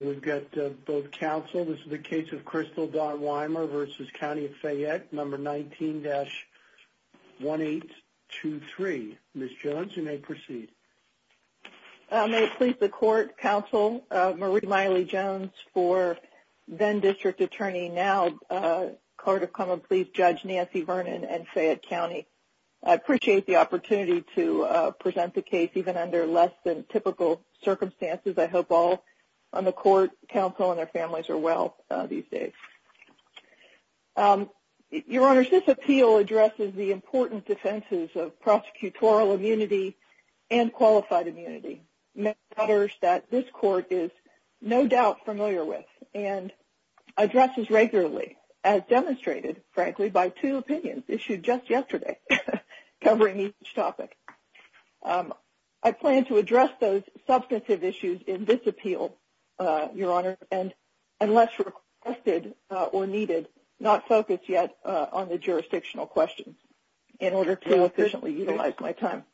19-1823. Ms. Jones you may proceed. I may please the court counsel Marie Miley Jones for then District Attorney now Court of Common Pleas Judge Nancy Vernon and Fayette County. I appreciate the opportunity to present the case even under less than typical circumstances. I hope all on the court counsel and their families are well these days. Your Honors, this appeal addresses the important defenses of prosecutorial immunity and qualified immunity. Matters that this court is no doubt familiar with and addresses regularly as demonstrated frankly by two opinions issued just yesterday covering each topic. I plan to address those substantive issues in this appeal Your Honor and unless requested or needed not focus yet on the jurisdictional questions in order to efficiently utilize my time.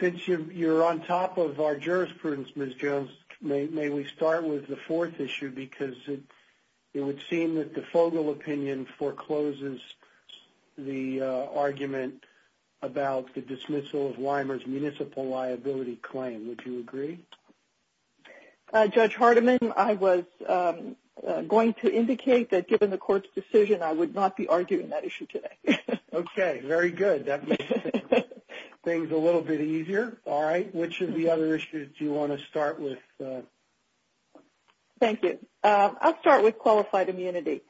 Since you're on top of our jurisprudence Ms. Jones may we start with the fourth issue because it would seem that the Fogel opinion forecloses the argument about the dismissal of Weimer's municipal liability claim. Would you agree? Judge Hardiman I was going to indicate that given the court's decision I would not be arguing that issue today. Okay very good that makes things a little bit easier. All right which of the other issues do you want to start with? Thank you. I'll start with qualified immunity.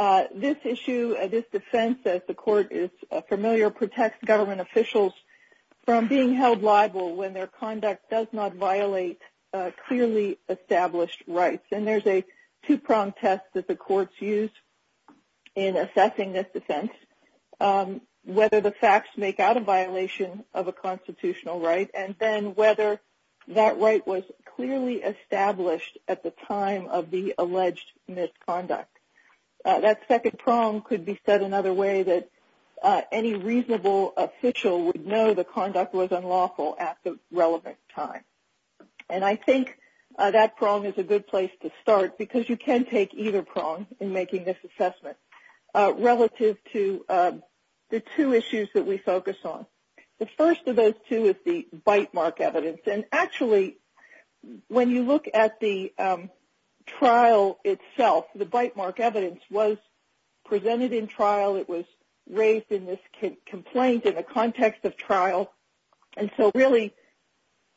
This issue and this defense as the court is familiar protects government officials from being held liable when their conduct does not violate clearly established rights and there's a two-prong test that the courts use in assessing this defense whether the facts make out a violation of a constitutional right and then whether that right was clearly established at the time of the alleged misconduct. That second prong could be said another way that any reasonable official would know the conduct was unlawful at the relevant time and I think that prong is a good place to start because you can take either prong in making this assessment relative to the two issues that we focus on. The first of those two is the bite mark evidence and actually when you look at the trial itself the bite mark evidence was presented in trial it was raised in this complaint in the and so really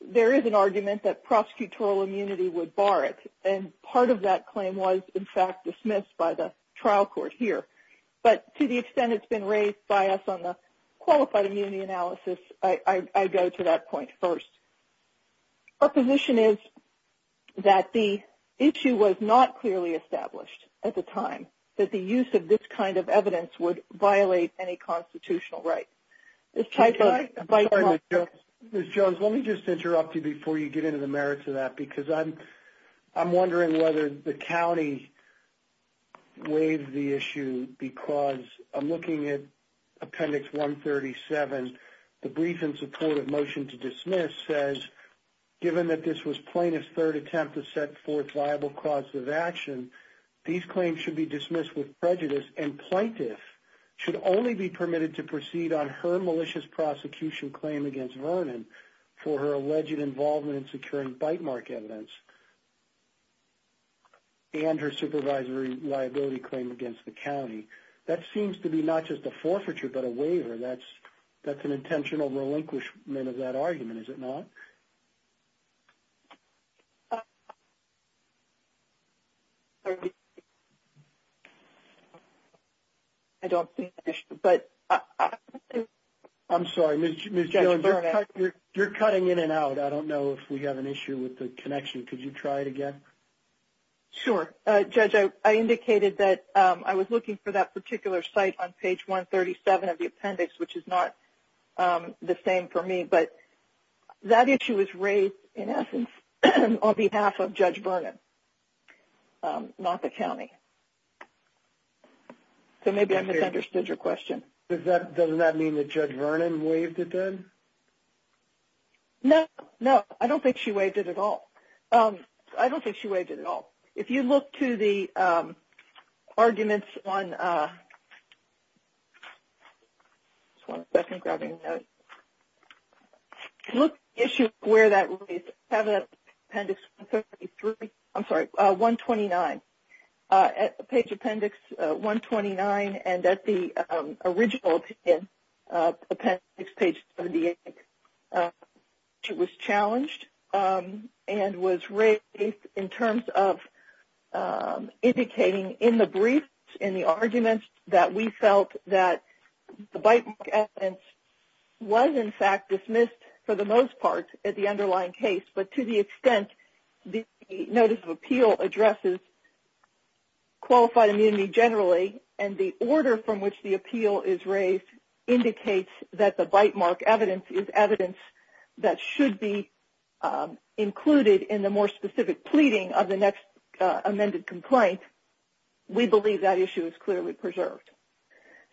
there is an argument that prosecutorial immunity would bar it and part of that claim was in fact dismissed by the trial court here but to the extent it's been raised by us on the qualified immunity analysis I go to that point first. Our position is that the issue was not clearly established at the time that the use of this kind of evidence would violate any Miss Jones let me just interrupt you before you get into the merits of that because I'm I'm wondering whether the county waived the issue because I'm looking at appendix 137 the brief in support of motion to dismiss says given that this was plaintiff's third attempt to set forth viable causes of action these claims should be dismissed with prejudice and plaintiff should only be permitted to proceed on her malicious prosecution claim against Vernon for her alleged involvement in securing bite mark evidence and her supervisory liability claim against the county that seems to be not just a forfeiture but a waiver that's that's an intentional relinquishment of that argument is it not? I don't think but I'm sorry Miss Jones you're cutting in and out I don't know if we have an issue with the connection could you try it again? Sure judge I indicated that I was looking for that particular site on page 137 of the appendix which is not the same for me but that issue was in essence on behalf of Judge Vernon not the county so maybe I misunderstood your question. Does that doesn't that mean that Judge Vernon waived it then? No no I don't think she waived it at all I don't think she waived it at all if you look to the appendix 133 I'm sorry 129 at page appendix 129 and at the original appendix page 78 it was challenged and was raised in terms of indicating in the briefs in the arguments that we felt that the bite mark evidence was in fact dismissed for the most part at the underlying case but to the extent the notice of appeal addresses qualified immunity generally and the order from which the appeal is raised indicates that the bite mark evidence is evidence that should be included in the more specific pleading of the next amended complaint we believe that issue is clearly preserved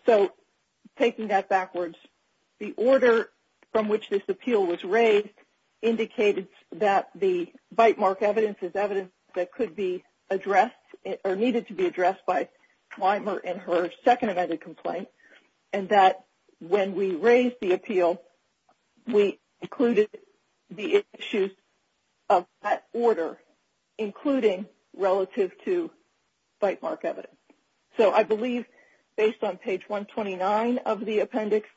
so taking that backwards the order from which this appeal was raised indicated that the bite mark evidence is evidence that could be addressed or needed to be addressed by Clymer in her second amended complaint and that when we raised the bite mark evidence so I believe based on page 129 of the appendix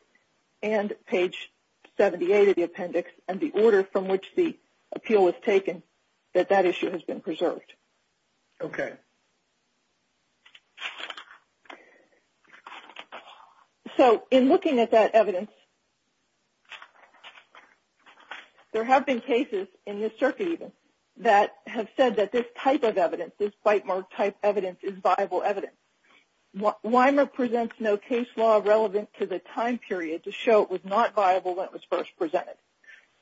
and page 78 of the appendix and the order from which the appeal was taken that that issue has been preserved okay so in looking at that evidence there have been cases in this circuit even that have said that this type of evidence this bite type evidence is viable evidence what Weimer presents no case law relevant to the time period to show it was not viable when it was first presented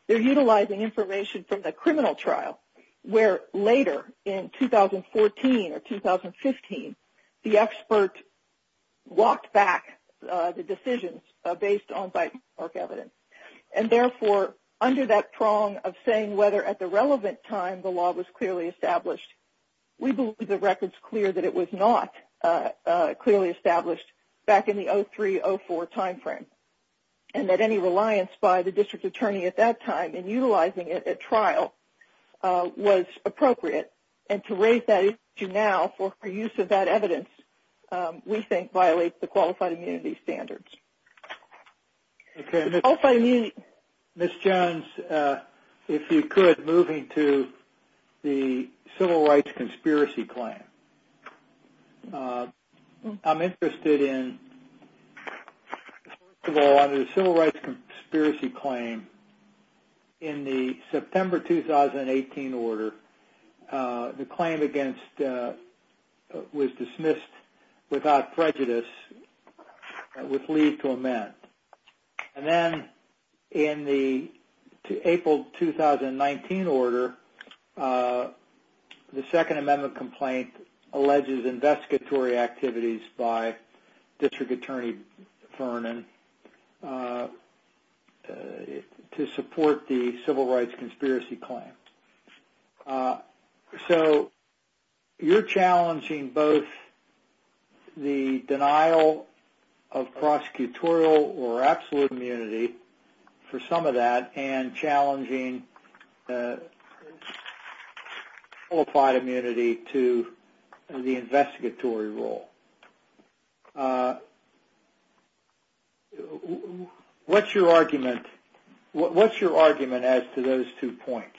they're utilizing information from the criminal trial where later in 2014 or 2015 the expert walked back the decisions based on bite mark evidence and therefore under that prong of saying whether at the relevant time the law was clearly established we believe the record's clear that it was not clearly established back in the 0304 time frame and that any reliance by the district attorney at that time in utilizing it at trial was appropriate and to raise that issue now for her use of that evidence we think violates the qualified immunity standards okay I'll find you miss jones uh if you could moving to the civil rights conspiracy claim I'm interested in well under the civil rights conspiracy claim in the September 2018 order the claim against was dismissed without prejudice with leave to amend and then in the April 2019 order the second amendment complaint alleges investigatory activities by district attorney Vernon uh to support the civil rights conspiracy claim so you're challenging both the denial of prosecutorial or absolute immunity for some of and challenging qualified immunity to the investigatory role what's your argument what's your argument as to those two points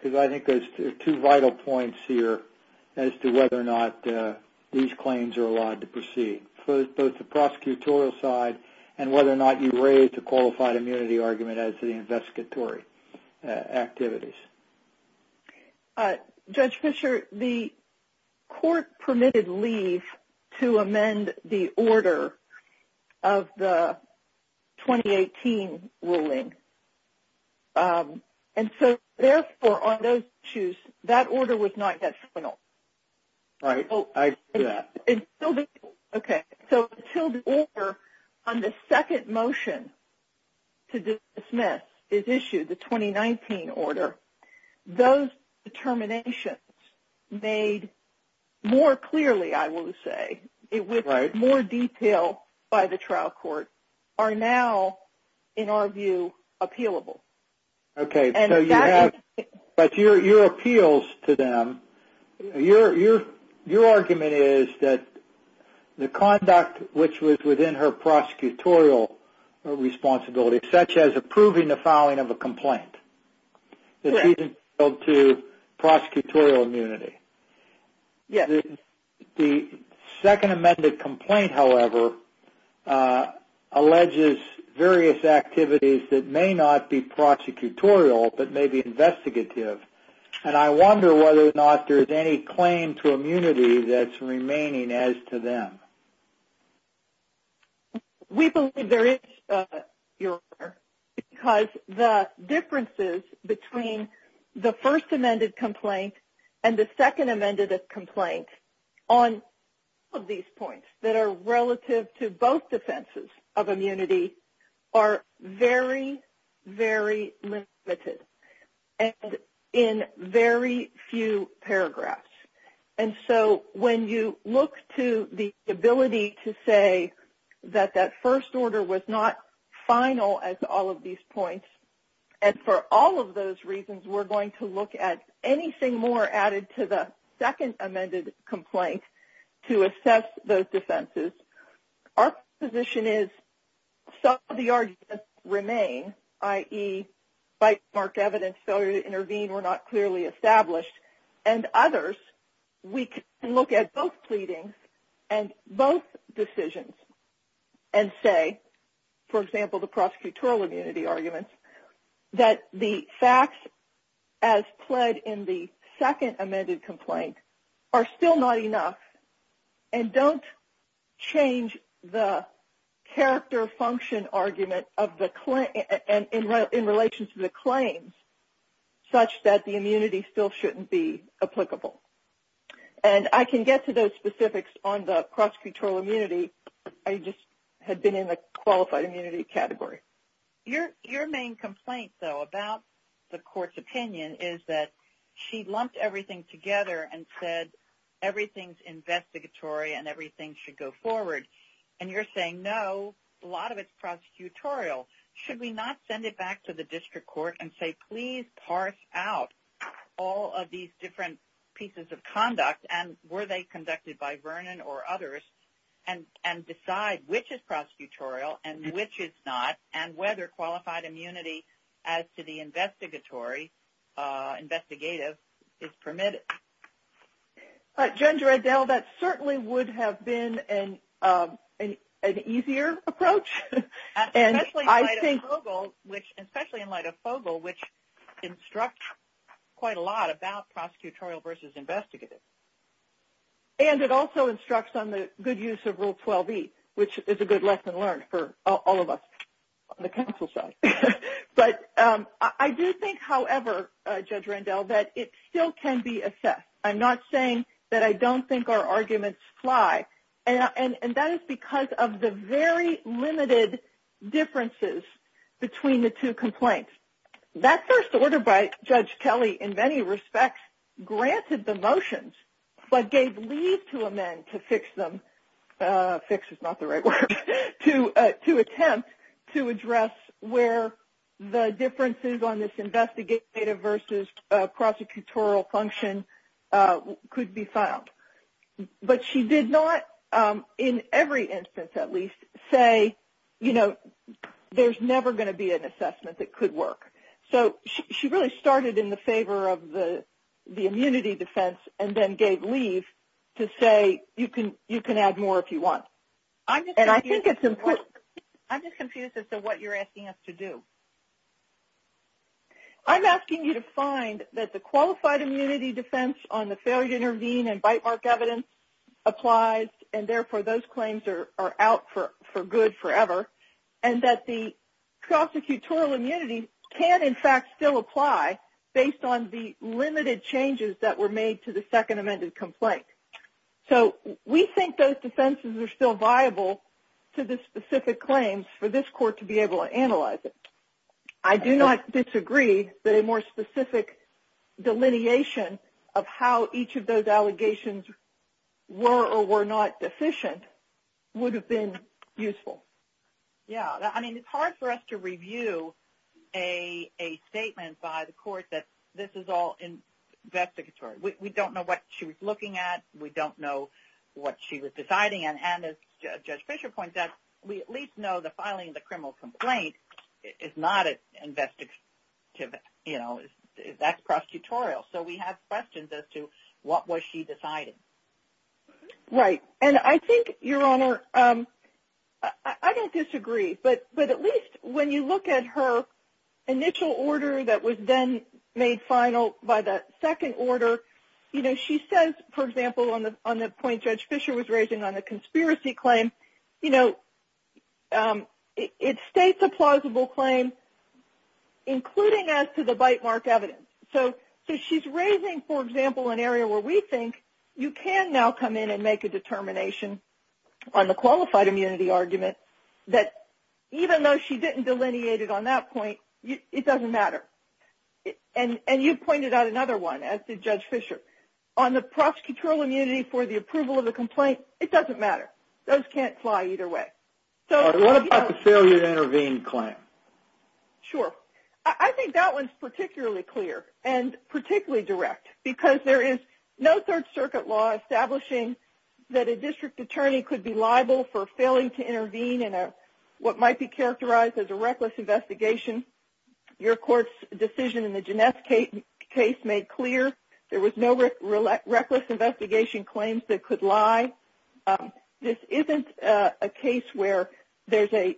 because I think there's two vital points here as to whether or not these claims are allowed to proceed both the prosecutorial side and whether or not you raise the qualified immunity argument as the investigatory activities uh judge fisher the court permitted leave to amend the order of the 2018 ruling and so therefore on those issues that order was not yet final right oh I do that okay so until the order on the second motion to dismiss is issued the 2019 order those determinations made more clearly I will say it with more detail by the trial court are now in our view appealable okay so you have but your your appeals to them your your your argument is that the conduct which was within her prosecutorial responsibility such as approving the filing of a complaint that she's entitled to prosecutorial immunity yeah the second amended complaint however uh alleges various activities that may not be prosecutorial but may be investigative and I wonder whether or not there is any claim to immunity that's remaining as to them we believe there is uh your because the differences between the first amended complaint and the second amended complaint on all of these points that are relative to both defenses of immunity are very very limited and in very few paragraphs and so when you look to the ability to say that that first order was not final as all of these points and for all of those reasons we're going to look at anything more added to the second amended complaint to assess those defenses our position is some of the arguments remain i.e. bite mark evidence failure to intervene were not clearly established and others we can look at both pleadings and both decisions and say for example the prosecutorial immunity arguments that the facts as pled in the change the character function argument of the claim and in relation to the claims such that the immunity still shouldn't be applicable and I can get to those specifics on the prosecutorial immunity I just had been in the qualified immunity category your your main complaint though about the court's opinion is that she lumped everything together and said everything's investigatory and everything should go forward and you're saying no a lot of it's prosecutorial should we not send it back to the district court and say please parse out all of these different pieces of conduct and were they conducted by Vernon or others and and decide which is prosecutorial and which is not and whether qualified immunity as to the investigatory investigative is permitted but gender Adele that certainly would have been an an easier approach and I think which especially in light of Fogle which instructs quite a lot about prosecutorial versus investigative and it also instructs on the good use of rule 12e which is a good lesson learned for all of us on the council side but I do think however Judge Randall that it still can be assessed I'm not saying that I don't think our arguments fly and and that is because of the very limited differences between the two complaints that first order by Judge Kelly in many respects granted the motions but gave leave to amend to them fix is not the right word to to attempt to address where the differences on this investigative versus prosecutorial function could be found but she did not in every instance at least say you know there's never going to be an assessment that could work so she really started in the favor of the the immunity defense and then gave leave to say you can you can add more if you want and I think it's important I'm just confused as to what you're asking us to do I'm asking you to find that the qualified immunity defense on the failure to intervene and bite mark evidence applies and therefore those claims are are out for for good forever and that the prosecutorial immunity can in fact still apply based on the limited changes that were made to the second amended complaint so we think those defenses are still viable to the specific claims for this court to be able to analyze it I do not disagree that a more specific delineation of how each of those allegations were or were not deficient would have been useful yeah I mean it's hard for us to review a a statement by the court that this is all investigatory we don't know what she was looking at we don't know what she was deciding and as Judge Fisher points out we at least know the filing of the criminal complaint is not an investigative you know that's prosecutorial so we have questions as to what was she deciding right and I think your honor I don't disagree but but at least when you look at her initial order that was then made final by the second order you know she says for example on the on the point Judge Fisher was raising on the conspiracy claim you know it states a plausible claim including as to the bite mark evidence so so she's raising for example an area where we think you can now come in and make a determination on the qualified immunity argument that even though she didn't delineate it on that point it doesn't matter and and you pointed out another one as did Judge Fisher on the prosecutorial immunity for the approval of the complaint it doesn't matter those can't fly either way so what about the failure to intervene claim? Sure I think that one's particularly clear and particularly direct because there is no third circuit law establishing that a district attorney could be liable for failing to intervene in a what might be characterized as a reckless investigation your court's decision in the Ginesse case made clear there was no real reckless investigation claims that could lie this isn't a case where there's a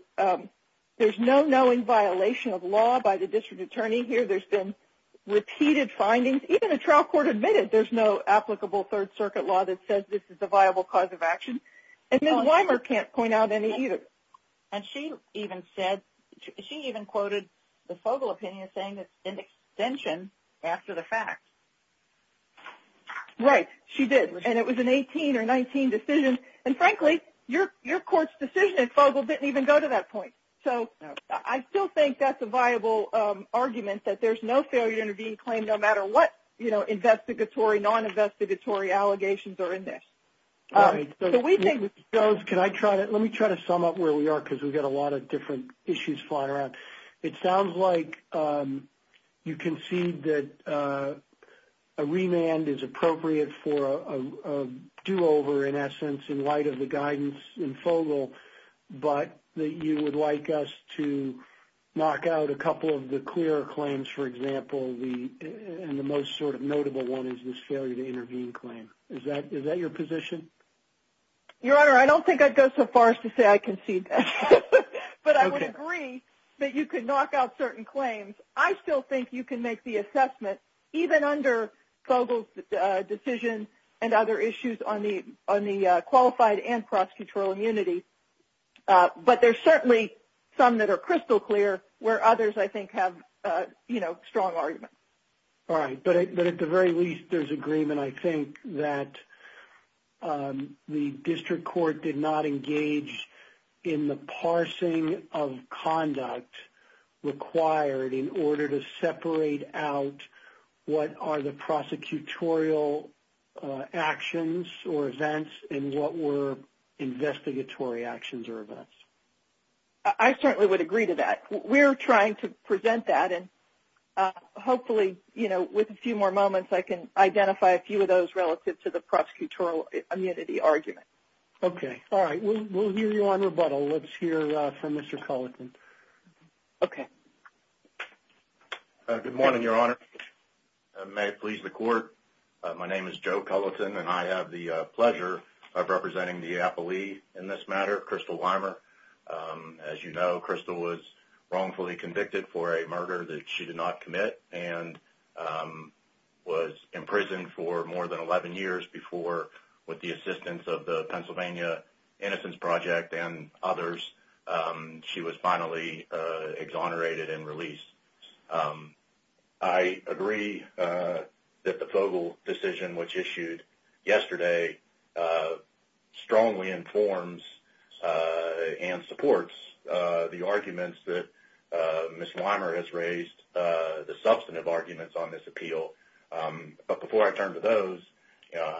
there's no knowing violation of law by the district attorney here there's been repeated findings even a trial court admitted there's no applicable third circuit law that says this is a viable cause of action and then Weimer can't point out any either and she even said she even quoted the Fogel opinion saying that in extension after the fact right she did and it was an 18 or 19 decision and frankly your your court's decision at Fogel didn't even go to that point so I still think that's a viable argument that there's no failure to intervene claim no matter what you know investigatory non-investigatory allegations are in this. All right so we think those can I try to let me try to sum up where we are because we've got a lot of different issues flying around it sounds like you concede that a remand is appropriate for a do-over in essence in light of the guidance in Fogel but that you would like us to knock out a couple of the clearer claims for example the and the most sort of notable one is this failure to intervene claim is that is that your position? Your honor I don't think I'd go so far as to say I concede that but I would agree that you could knock out certain claims I still think you can make the assessment even under Fogel's decision and other issues on the on the qualified and prosecutorial immunity but there's certainly some that are crystal clear where others I think have you know strong arguments. All right but at the very least there's agreement I think that the district court did not engage in the parsing of conduct required in order to separate out what are the prosecutorial actions or events and what were investigatory actions or events. I certainly would agree to that we're trying to identify a few of those relative to the prosecutorial immunity argument. Okay all right we'll hear you on rebuttal let's hear from Mr. Culleton. Okay good morning your honor may it please the court my name is Joe Culleton and I have the pleasure of representing the appellee in this matter Crystal Weimer. As you know Crystal was wrongfully convicted for a murder that she did not commit and was imprisoned for more than 11 years before with the assistance of the Pennsylvania Innocence Project and others she was finally exonerated and released. I agree that the Fogel decision which issued yesterday strongly informs and supports the arguments that Ms. Weimer has raised the substantive arguments on this appeal but before I turn to those you know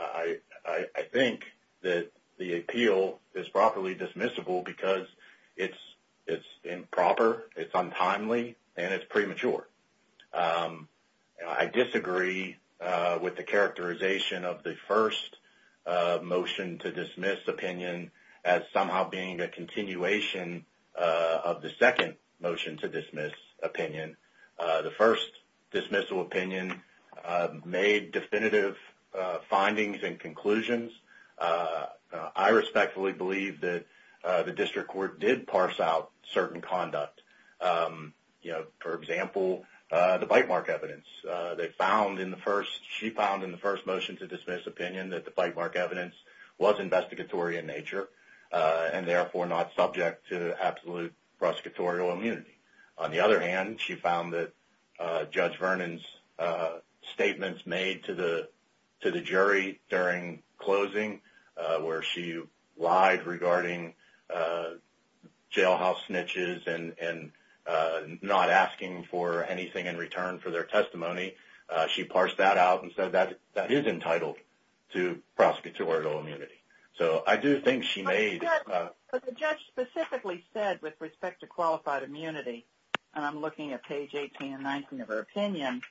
I think that the appeal is properly dismissible because it's improper it's untimely and it's premature. I disagree with the characterization of the first motion to dismiss opinion as somehow being a continuation of the second motion to dismiss opinion. The first dismissal opinion made definitive findings and conclusions. I respectfully believe that the district court did parse out certain conduct you know for example the bite mark evidence they found in the first she found in the first motion to dismiss opinion that the bite mark evidence was investigatory in nature and therefore not subject to absolute prosecutorial immunity. On the other hand she found that Judge Vernon's statements made to the to the jury during closing where she lied regarding jailhouse snitches and not asking for anything in return for their testimony she parsed that out and said that that is entitled to prosecutorial immunity. So I do think she made... But the judge specifically said with respect to qualified immunity and I'm looking at page 18 and 19 of her opinion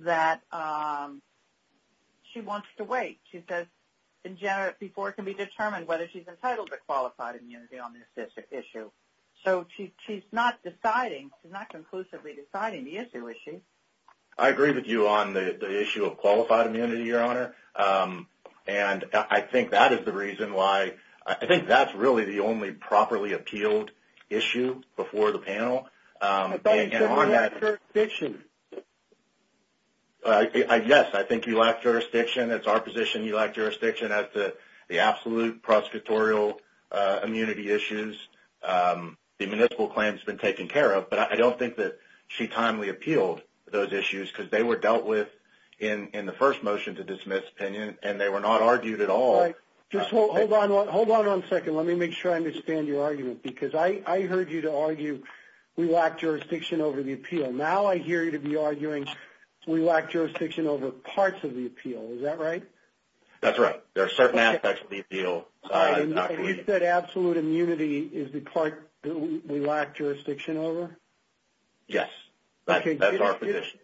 that she wants to wait. She says in general before it can be determined whether she's entitled to qualified immunity on this issue. So she's not deciding she's not conclusively deciding the issue is she? I agree with you on the the issue of qualified immunity your honor and I think that is the reason why I think that's really the only properly appealed issue before the panel. I think you lack jurisdiction. Yes I think you lack jurisdiction. It's our position you lack jurisdiction as to the absolute prosecutorial immunity issues. The municipal claim has been taken care of but I don't think that she timely appealed those issues because they were dealt with in the first motion to dismiss opinion and they were not argued at all. Just hold on one hold on one second let me make sure I understand your argument because I heard you to argue we lack jurisdiction over the appeal. Now I hear you to be arguing we lack jurisdiction over parts of the appeal. Is that right? That's right there are certain aspects of the appeal. Is that absolute immunity is the part we lack jurisdiction over? Yes that's our position.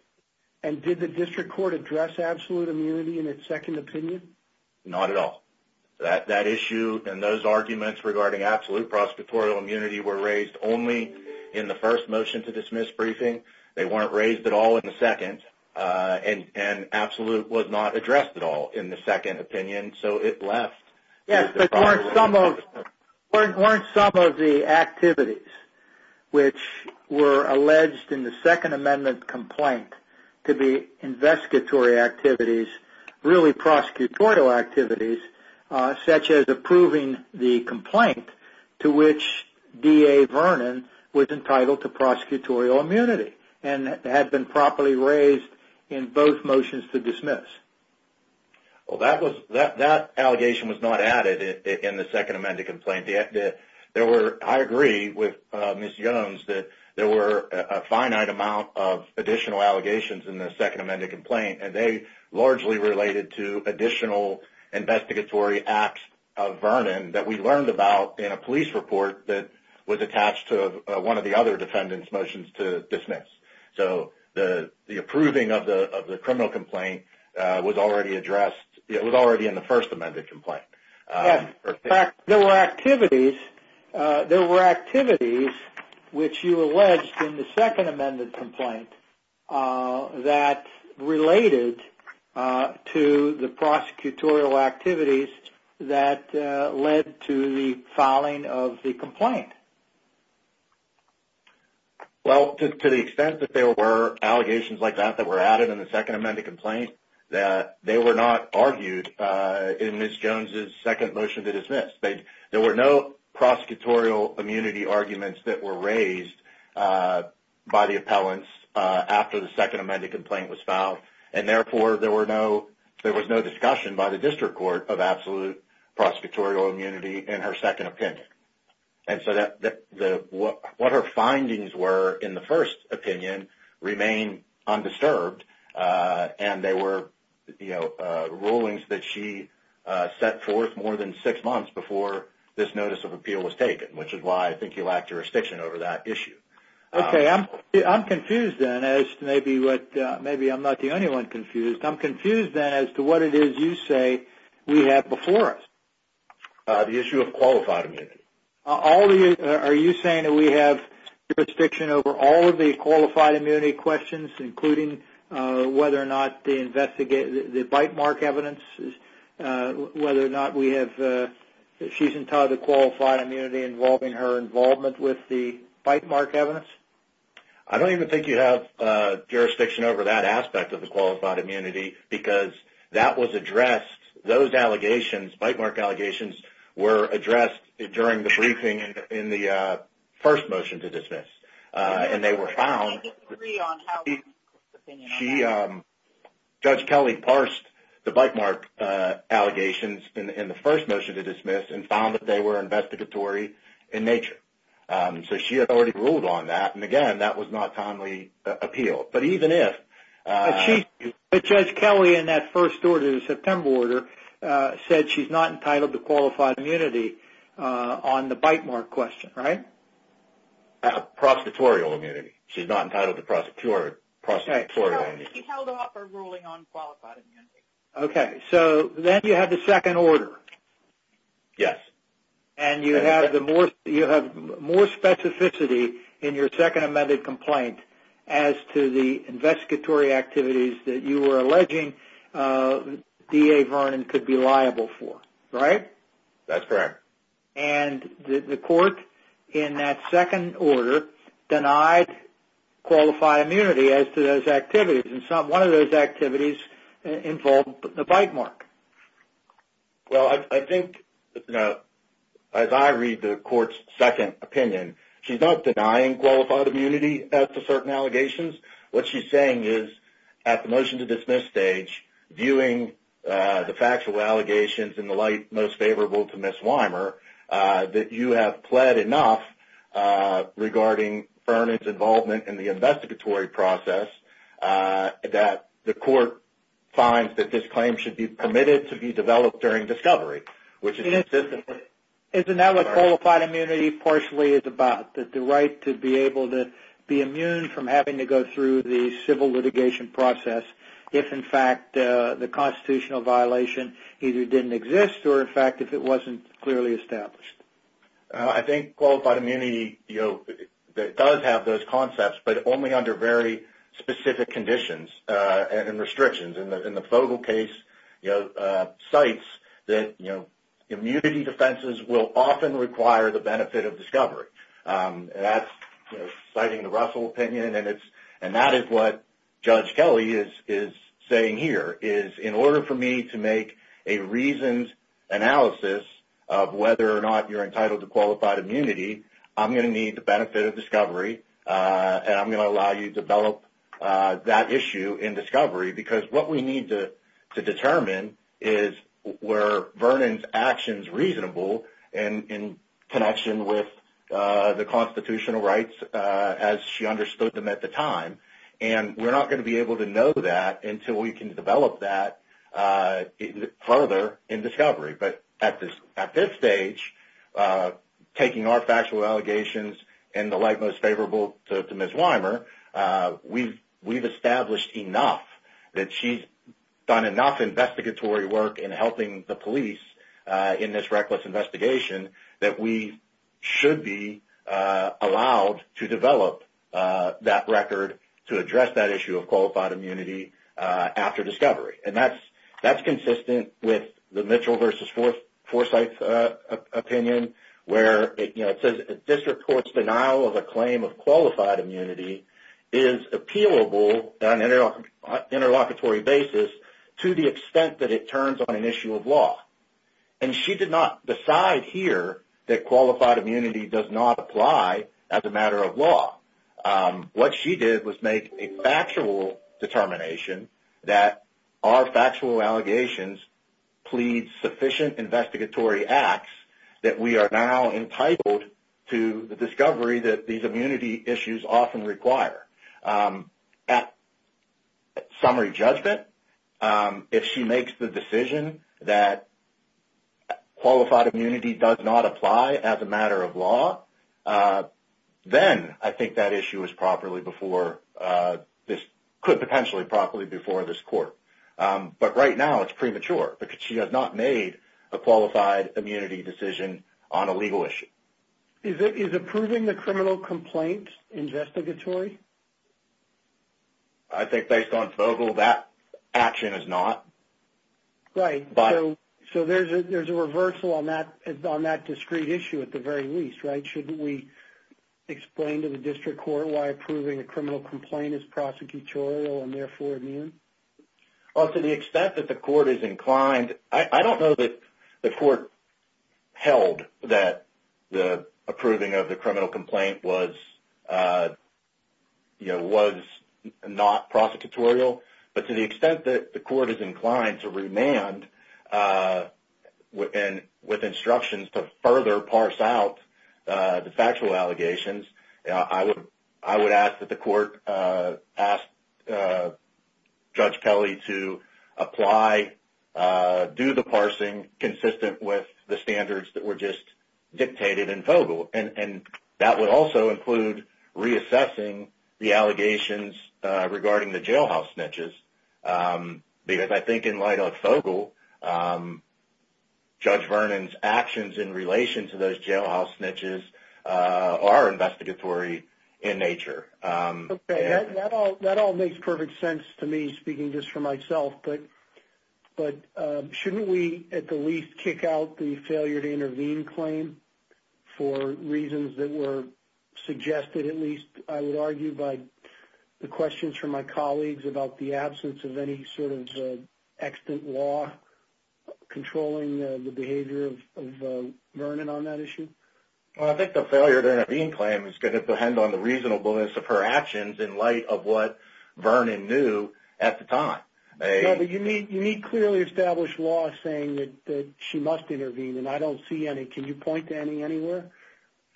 And did the district court address absolute immunity in its second opinion? Not at all that that issue and those arguments regarding absolute prosecutorial immunity were raised only in the first motion to dismiss briefing. They weren't raised at all in the second and and absolute was not addressed at all in the second opinion so it left. Yes but weren't some of the activities which were alleged in the second amendment complaint to be investigatory activities really prosecutorial activities such as approving the complaint to which DA Vernon was entitled to prosecutorial immunity and had been properly raised in both motions to dismiss? Well that was that that allegation was not added in the second amended complaint. There were I agree with Ms. Jones that there were a finite amount of additional allegations in the second amended complaint and they largely related to additional investigatory acts of Vernon that we learned about in a police report that was so the the approving of the of the criminal complaint was already addressed it was already in the first amended complaint. There were activities there were activities which you alleged in the second amended complaint that related to the prosecutorial activities that led to the filing of the complaint. Well to the extent that there were allegations like that that were added in the second amended complaint that they were not argued in Ms. Jones's second motion to dismiss. There were no prosecutorial immunity arguments that were raised by the appellants after the second amended complaint was filed and therefore there were no there was no discussion by the district court of absolute prosecutorial immunity in her second opinion. And so that the what her findings were in the first opinion remain undisturbed and they were you know rulings that she set forth more than six months before this notice of appeal was taken which is why I think he lacked jurisdiction over that issue. Okay I'm I'm confused then as to maybe what maybe I'm not the only one confused I'm confused then as to what it is you say we have before us. The issue of qualified immunity. All the are you saying that we have jurisdiction over all of the qualified immunity questions including whether or not the investigate the bite mark evidence whether or not we have she's entitled to qualified immunity involving her involvement with the bite mark evidence? I don't even think you have jurisdiction over that aspect of the qualified immunity because that was addressed those allegations bite mark allegations were addressed during the briefing in the first motion to dismiss and they were found she judge Kelly parsed the bite mark allegations in the first motion to dismiss and found that they were investigatory in nature so she had already ruled on that and again that was not timely appeal but even if she but Judge Kelly in that first order the September order said she's not entitled to qualified immunity on the bite mark question right? Prostitutorial immunity she's not entitled to prosecutorial immunity. She held off her ruling on qualified immunity. Okay so then you have the second order. Yes. And you have the more you have more specificity in your second amended complaint as to the investigatory activities that you were alleging DA Vernon could be liable for right? That's correct. And the court in that second order denied qualified immunity as to those activities and some one of those activities involved the bite mark. Well I think you know as I read the court's second opinion she's not denying qualified immunity as to certain allegations what she's saying is at the motion to dismiss stage viewing the factual allegations in the light most favorable to Ms. Wymer that you have pled enough regarding Vernon's involvement in the investigatory process that the court finds that this claim should be permitted to be developed during discovery which is isn't that what qualified immunity partially is about that the right to be able to be immune from having to go through the civil litigation process if in fact the constitutional violation either didn't exist or in fact if it wasn't clearly established. I think qualified immunity you know that does have those concepts but only under very specific conditions and restrictions and the Fogel case you know cites that you know immunity defenses will often require the benefit of discovery. That's citing the Russell opinion and it's and that is what Judge Kelly is is saying here is in order for me to make a reasoned analysis of whether or not you're I'm going to need the benefit of discovery and I'm going to allow you to develop that issue in discovery because what we need to to determine is were Vernon's actions reasonable and in connection with the constitutional rights as she understood them at the time and we're not going to be able to know that until we can develop that further in discovery but at this at this stage taking our factual allegations and the like most favorable to Ms. Wymer we've established enough that she's done enough investigatory work in helping the police in this reckless investigation that we should be allowed to develop that record to address that issue of qualified immunity after discovery and that's that's Forsyth's opinion where it you know it says this report's denial of a claim of qualified immunity is appealable on an interlocutory basis to the extent that it turns on an issue of law and she did not decide here that qualified immunity does not apply as a matter of law. What she did was make a factual determination that our factual allegations plead sufficient investigatory acts that we are now entitled to the discovery that these immunity issues often require. At summary judgment if she makes the decision that issue is properly before this could potentially properly before this court but right now it's premature because she has not made a qualified immunity decision on a legal issue. Is it is approving the criminal complaint investigatory? I think based on FOGL that action is not. Right, so there's a reversal on that discrete issue at the very least, right? We explain to the district court why approving a criminal complaint is prosecutorial and therefore immune? Well to the extent that the court is inclined I don't know that the court held that the approving of the criminal complaint was you know was not prosecutorial but to the extent that the court is inclined to remand and with instructions to further parse out the factual allegations I would ask that the court ask Judge Kelly to apply do the parsing consistent with the standards that were just dictated in FOGL and that would also include reassessing the allegations regarding the jailhouse snitches because I think in light of FOGL Judge Vernon's actions in relation to those jailhouse snitches are investigatory in nature. That all makes perfect sense to me speaking just for myself but shouldn't we at the least kick out the failure to intervene claim for reasons that were suggested at least I would argue by the questions from my colleagues about the absence of any sort of extant law controlling the behavior of Vernon on that issue? Well I think the failure to intervene claim is going to depend on the reasonableness of her actions in light of what Vernon knew at the time. Yeah but you need clearly established law saying that she must intervene and I don't see any can you point to any anywhere?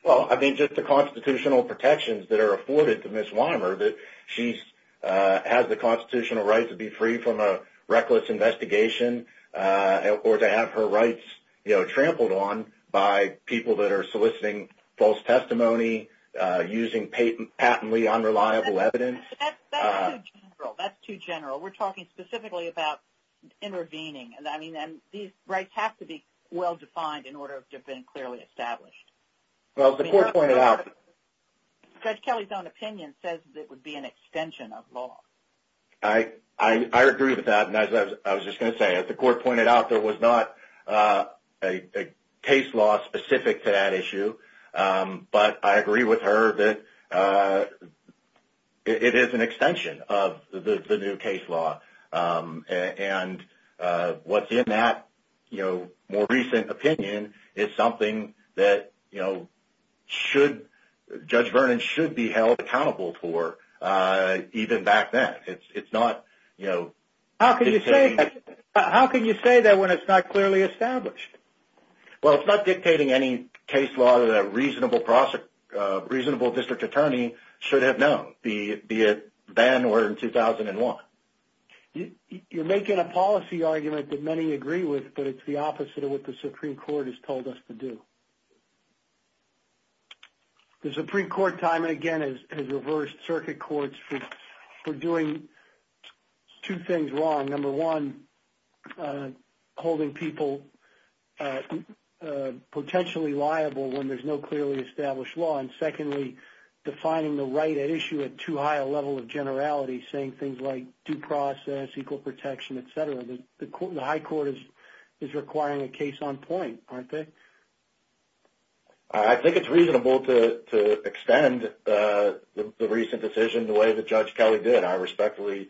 Well I think just the constitutional protections that are afforded to Ms. Wymer that she has the constitutional right to be free from a reckless investigation or to have her rights you know trampled on by people that are soliciting false testimony using patently unreliable evidence. That's too general we're talking specifically about intervening and I mean and these rights have to be well defined in order to have been clearly established. Well the court pointed out Judge Kelly's own opinion says it would be an extension of law. I agree with that and as I was just going to say as the court pointed out there was not a case law specific to that issue but I agree with her that it is an extension of the new case law and what's in that you know more recent opinion is something that you know should Judge Vernon should be held accountable for even back then. It's not you know. How can you say that when it's not clearly established? Well it's not dictating any case law that a reasonable reasonable district attorney should have known be it then or in 2001. You're making a policy argument that many agree with but it's the opposite of what the Supreme Court has told us to do. The Supreme Court time and again has reversed circuit courts for doing two things wrong. Number one holding people potentially liable when there's no clearly established law and secondly defining the right at issue at too high a level of generality saying things like due process, equal protection, etc. The High Court is requiring a case on point, aren't they? I think it's reasonable to extend the recent decision the way that Judge Kelly did. I respectfully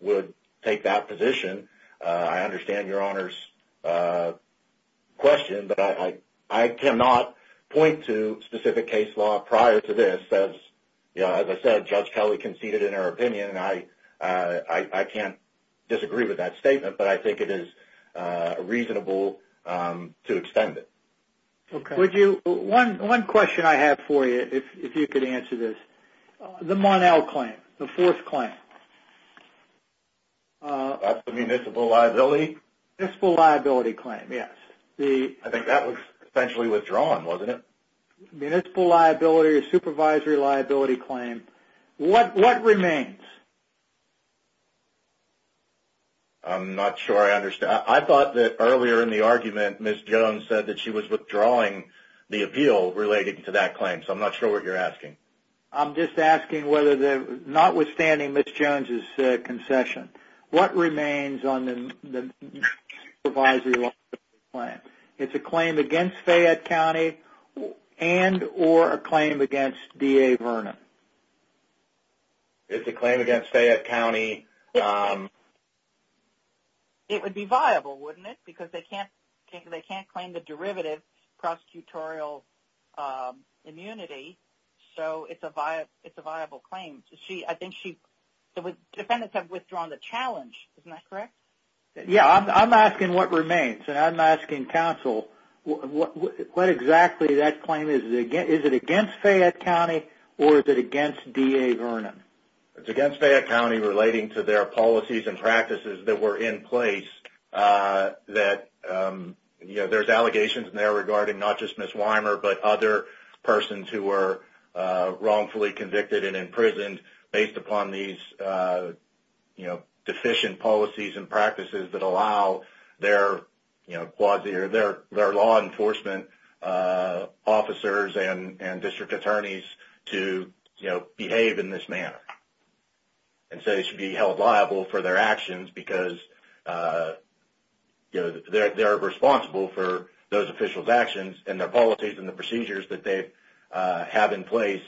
would take that position. I understand your Honor's question but I cannot point to specific case law prior to this as you know as I said Judge Kelly conceded in her opinion and I can't disagree with that statement but I think it is reasonable to extend it. Would you? One question I have for you if you could answer this. The Mon-El claim, the fourth claim. Municipal liability? Municipal liability claim, yes. I think that was essentially withdrawn, wasn't it? Municipal liability, supervisory liability claim. What remains? I'm not sure I understand. I thought that earlier in the argument Ms. Jones said that she was the appeal related to that claim so I'm not sure what you're asking. I'm just asking notwithstanding Ms. Jones' concession, what remains on the supervisory liability claim? It's a claim against Fayette County and or a claim against DA Vernon? It's a claim against Fayette County. It would be viable, wouldn't it? Because they can't claim the derivative prosecutorial immunity so it's a viable claim. The defendants have withdrawn the challenge, isn't that correct? Yeah, I'm asking what remains and I'm asking counsel what exactly that claim is. Is it against Fayette County or is it against DA Vernon? It's against Fayette County relating to their policies and practices that were in place that there's allegations in there regarding not just Ms. Wymer but other persons who were wrongfully convicted and imprisoned based upon these deficient policies and practices that allow their law enforcement officers and district attorneys to behave in this manner and so they should be held liable for their actions because they're responsible for those officials actions and their policies and the procedures that they have in place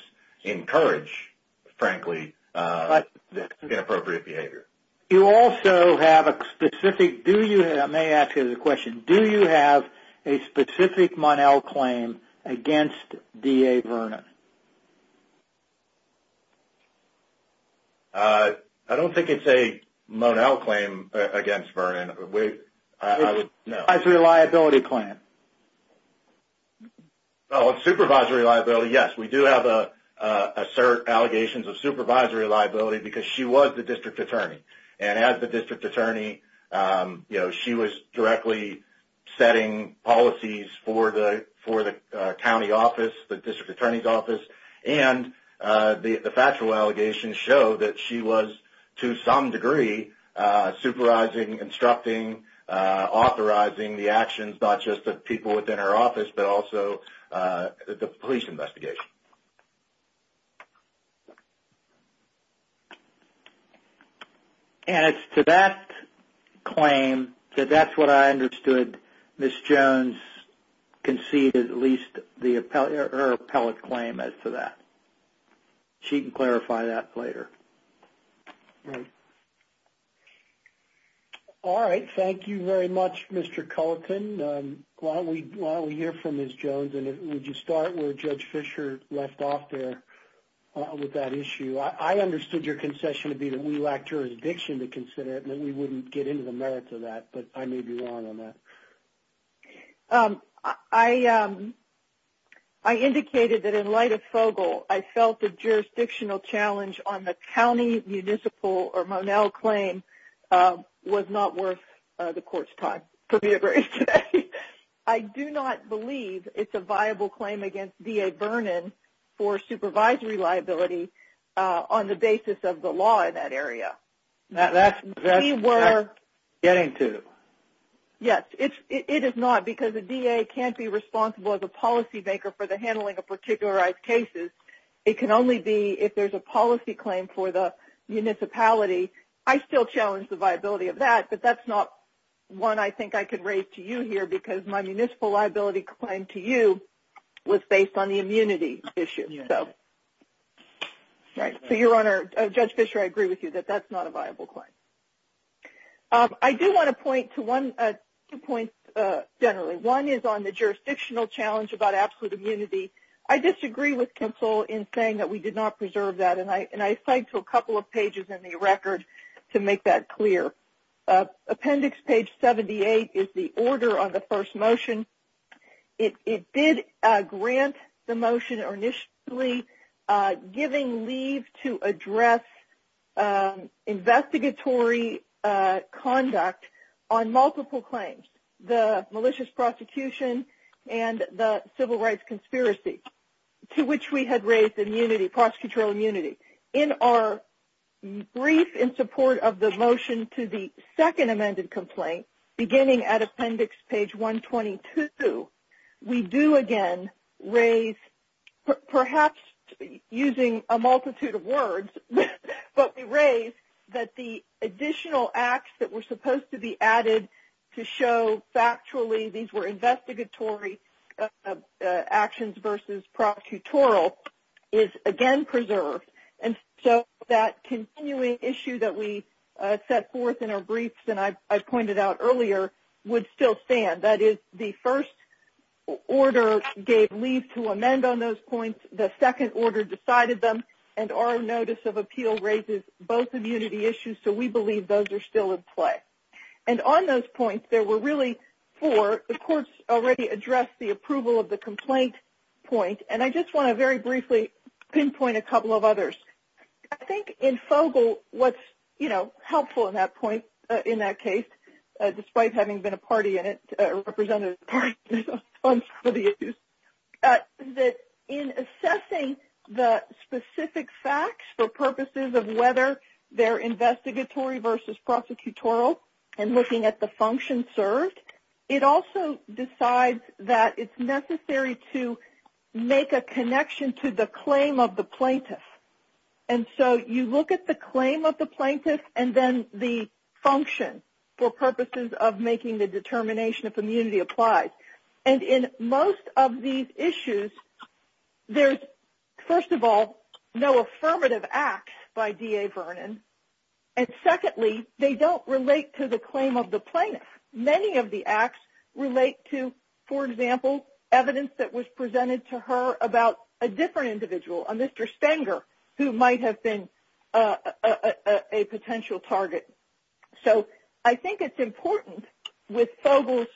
encourage, frankly, this inappropriate behavior. You also have a specific, I may ask you the question, do you have a specific Monell claim against DA Vernon? I don't think it's a Monell claim against Vernon. It's a supervisory liability claim. Oh, supervisory liability, yes, we do have assert allegations of supervisory liability because she was the district attorney and as the district attorney, you know, she was directly setting policies for the county office, the district attorney's office, and the factual allegations show that she was, to some degree, supervising, instructing, authorizing the actions not just of people within her office but also the police investigation. And it's to that claim that that's what I understood Ms. Jones conceded at least the appellate claim as to that. She can clarify that later. Right. All right, thank you very much, Mr. Culleton. Why don't we hear from Ms. Jones and would you start where Judge Fisher left off there with that issue? I understood your concession to be that we lack jurisdiction to consider it and we wouldn't get into the merits of that, but I may be wrong on that. I indicated that in light of FOGL, I felt the jurisdictional challenge on the county, municipal, or Monell claim was not worth the court's time. I do not believe it's a viable claim against DA Vernon for supervisory liability on the basis of the law in that area. That's getting to. Yes, it is not because the DA can't be responsible as a claim for the municipality. I still challenge the viability of that, but that's not one I think I could raise to you here because my municipal liability claim to you was based on the immunity issue. So, right. So, Your Honor, Judge Fisher, I agree with you that that's not a viable claim. I do want to point to two points generally. One is on the jurisdictional challenge about absolute immunity. I disagree with counsel in saying that we did not preserve that and I cite to a couple of pages in the record to make that clear. Appendix page 78 is the order on the first motion. It did grant the motion initially giving leave to address investigatory conduct on multiple claims, the malicious prosecution and the civil rights conspiracy to which we had raised immunity, prosecutorial immunity. In our brief in support of the motion to the second amended complaint, beginning at appendix page 122, we do again raise, perhaps using a multitude of words, but we raise that the additional acts that were supposed to be added to show factually these were investigatory actions versus prosecutorial is again preserved. And so, that continuing issue that we set forth in our briefs and I pointed out earlier would still stand. That is the first order gave leave to amend on those points, the second order decided them, and our notice of appeal raises both immunity issues, so we believe those are still in play. And on those points, there were really four. The courts already addressed the approval of the complaint point and I just want to very briefly pinpoint a couple of others. I think in FOGL, what's helpful in that case, despite having been a party in it, a representative of the party, that in assessing the specific facts for purposes of whether they're investigatory versus prosecutorial and looking at the function served, it also decides that it's necessary to make a connection to the claim of the plaintiff. And so, you look at the claim of the plaintiff and then the function for purposes of making the determination if immunity applies. And in most of these issues, there's, first of all, no affirmative acts by DA Vernon, and secondly, they don't relate to the claim of the plaintiff. Many of the acts relate to, for example, evidence that was presented to her about a different individual, a Mr. Stenger, who might have been a potential target. So, I think it's important with FOGL's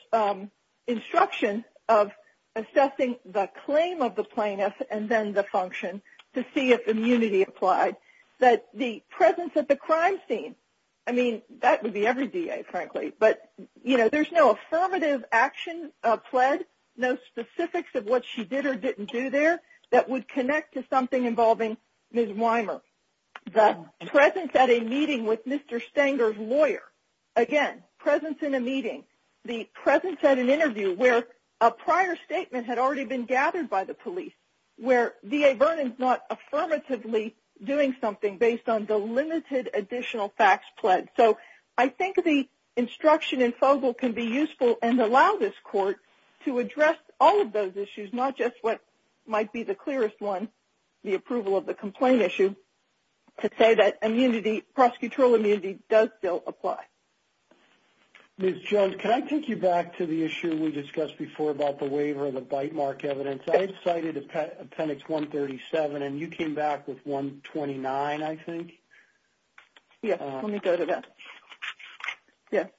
instruction of assessing the claim of the plaintiff and then the function to see if immunity applied, that the presence at the crime scene, I mean, that would be every DA, frankly, but there's no affirmative action pled, no specifics of what she did or didn't do there that would connect to something involving Ms. Wymer. The presence at a meeting with Mr. Stenger's lawyer, again, presence in a meeting, the presence at an interview where a prior statement had already been gathered by the police, where DA Vernon's not affirmatively doing something based on the limited additional facts pled. So, I think the instruction in FOGL can be useful and allow this the approval of the complaint issue to say that immunity, prosecutorial immunity, does still apply. Ms. Jones, can I take you back to the issue we discussed before about the waiver of the bite mark evidence? I've cited Appendix 137 and you came back with 129, I think. Yes, let me go to that. Yes.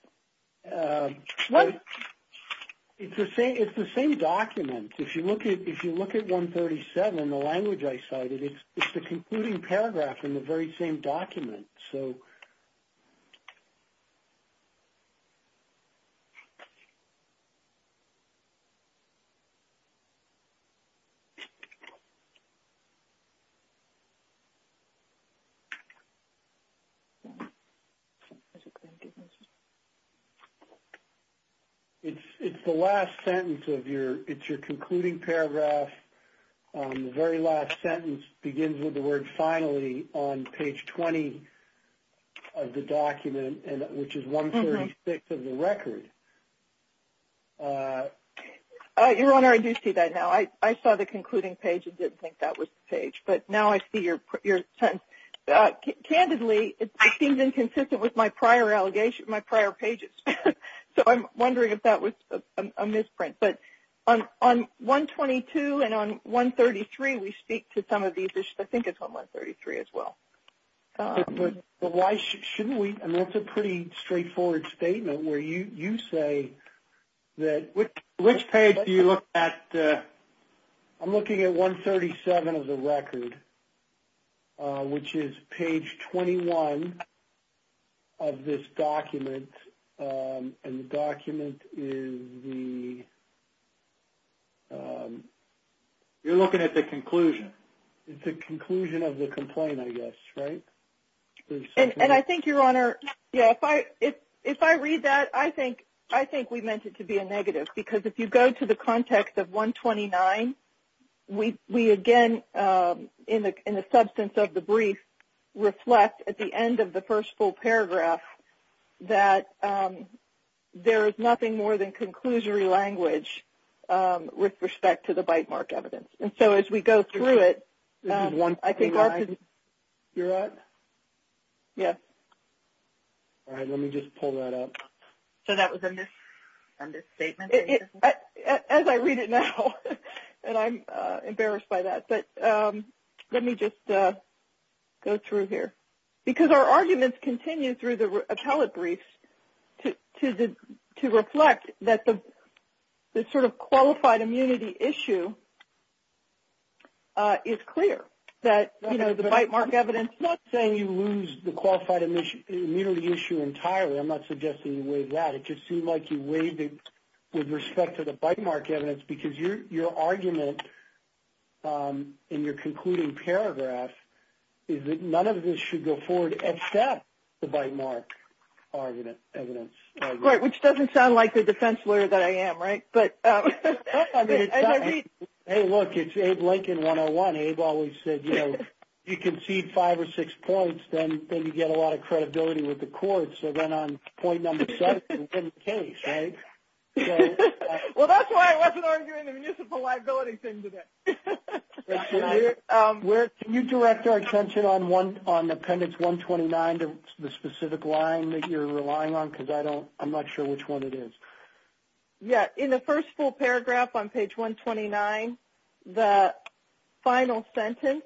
What? It's the same document. If you look at 137, the language I cited, it's the concluding paragraph in the very same document. So, it's the last sentence of your concluding paragraph, the very last sentence begins with the word finally on page 20 of the document, which is 136 of the record. Your Honor, I do see that now. I saw the concluding page and didn't think that was the page, but now I see your sentence. Candidly, it seems inconsistent with my prior allegations, my prior pages. So, I'm wondering if that was a misprint. But on 122 and on 133, we speak to some of these issues. I think it's on 133 as well. But why shouldn't we? I mean, that's a pretty straightforward statement where you say that which page do you look at? I'm looking at 137 of the record, which is page 21 of this document. And the document is the you're looking at the conclusion. It's the conclusion of the complaint, I guess, right? And I think your Honor, if I read that, I think we meant it to be a negative. Because if you go to the context of 129, we again, in the substance of the brief, reflect at the end of the first full paragraph that there is nothing more than conclusory language with respect to the bite mark evidence. And so, as we go through it, I think... Your Honor? Yes. All right. Let me just pull that up. So that was a misstatement? As I read it now, and I'm embarrassed by that. But let me just go through here. Because our arguments continue through the appellate briefs to reflect that the sort of qualified immunity issue is clear. That the bite mark evidence... It just seemed like you weighed it with respect to the bite mark evidence because your argument in your concluding paragraph is that none of this should go forward except the bite mark evidence. Right. Which doesn't sound like the defense lawyer that I am, right? But hey, look, it's Abe Lincoln 101. Abe always said, you know, you concede five or six points, then you get a lot of credibility with the court. So then on the case, right? Well, that's why I wasn't arguing the municipal liability thing today. Can you direct our attention on appendix 129, the specific line that you're relying on? Because I'm not sure which one it is. Yeah. In the first full paragraph on page 129, the final sentence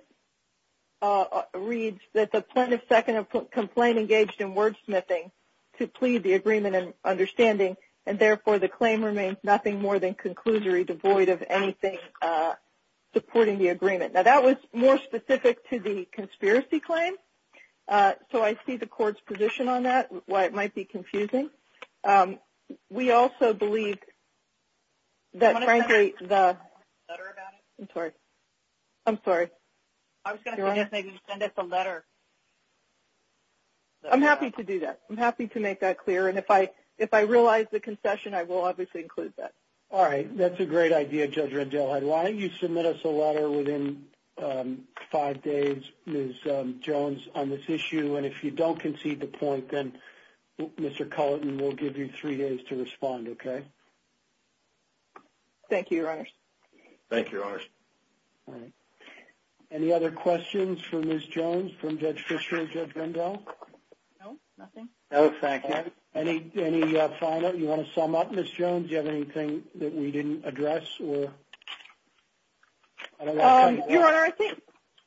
reads that the plaintiff's second complaint engaged in wordsmithing to plead the agreement in understanding, and therefore the claim remains nothing more than conclusory devoid of anything supporting the agreement. Now, that was more specific to the conspiracy claim. So I see the court's position on that, why it might be confusing. We also believe that frankly, the... I'm sorry. I'm sorry. I was going to say just maybe send us a letter. I'm happy to do that. I'm happy to make that clear. And if I realize the concession, I will obviously include that. All right. That's a great idea, Judge Rendell. Why don't you submit us a letter within five days, Ms. Jones, on this issue. And if you don't concede the point, then Mr. Culleton will give you three days to respond, okay? Okay. Thank you, Your Honors. Thank you, Your Honors. All right. Any other questions for Ms. Jones from Judge Fisher or Judge Rendell? No, nothing. No, thank you. Any final... You want to sum up, Ms. Jones? Do you have anything that we didn't address? Your Honor, I think...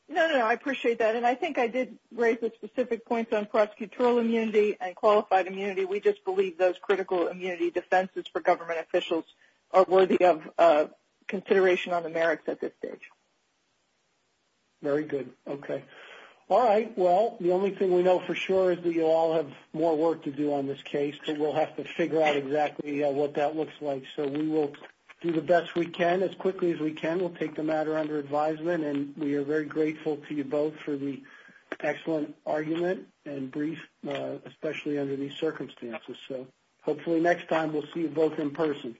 No, no, no. I appreciate that. And I think I did raise the specific points on prosecutorial immunity and qualified immunity. We just believe those critical immunity defenses for government officials are worthy of consideration on the merits at this stage. Very good. Okay. All right. Well, the only thing we know for sure is that you all have more work to do on this case, but we'll have to figure out exactly what that looks like. So, we will do the best we can as quickly as we can. We'll take the matter under advisement, and we are very grateful to you both for the excellent argument and brief, especially under these circumstances. So, hopefully next time we'll see you both in person.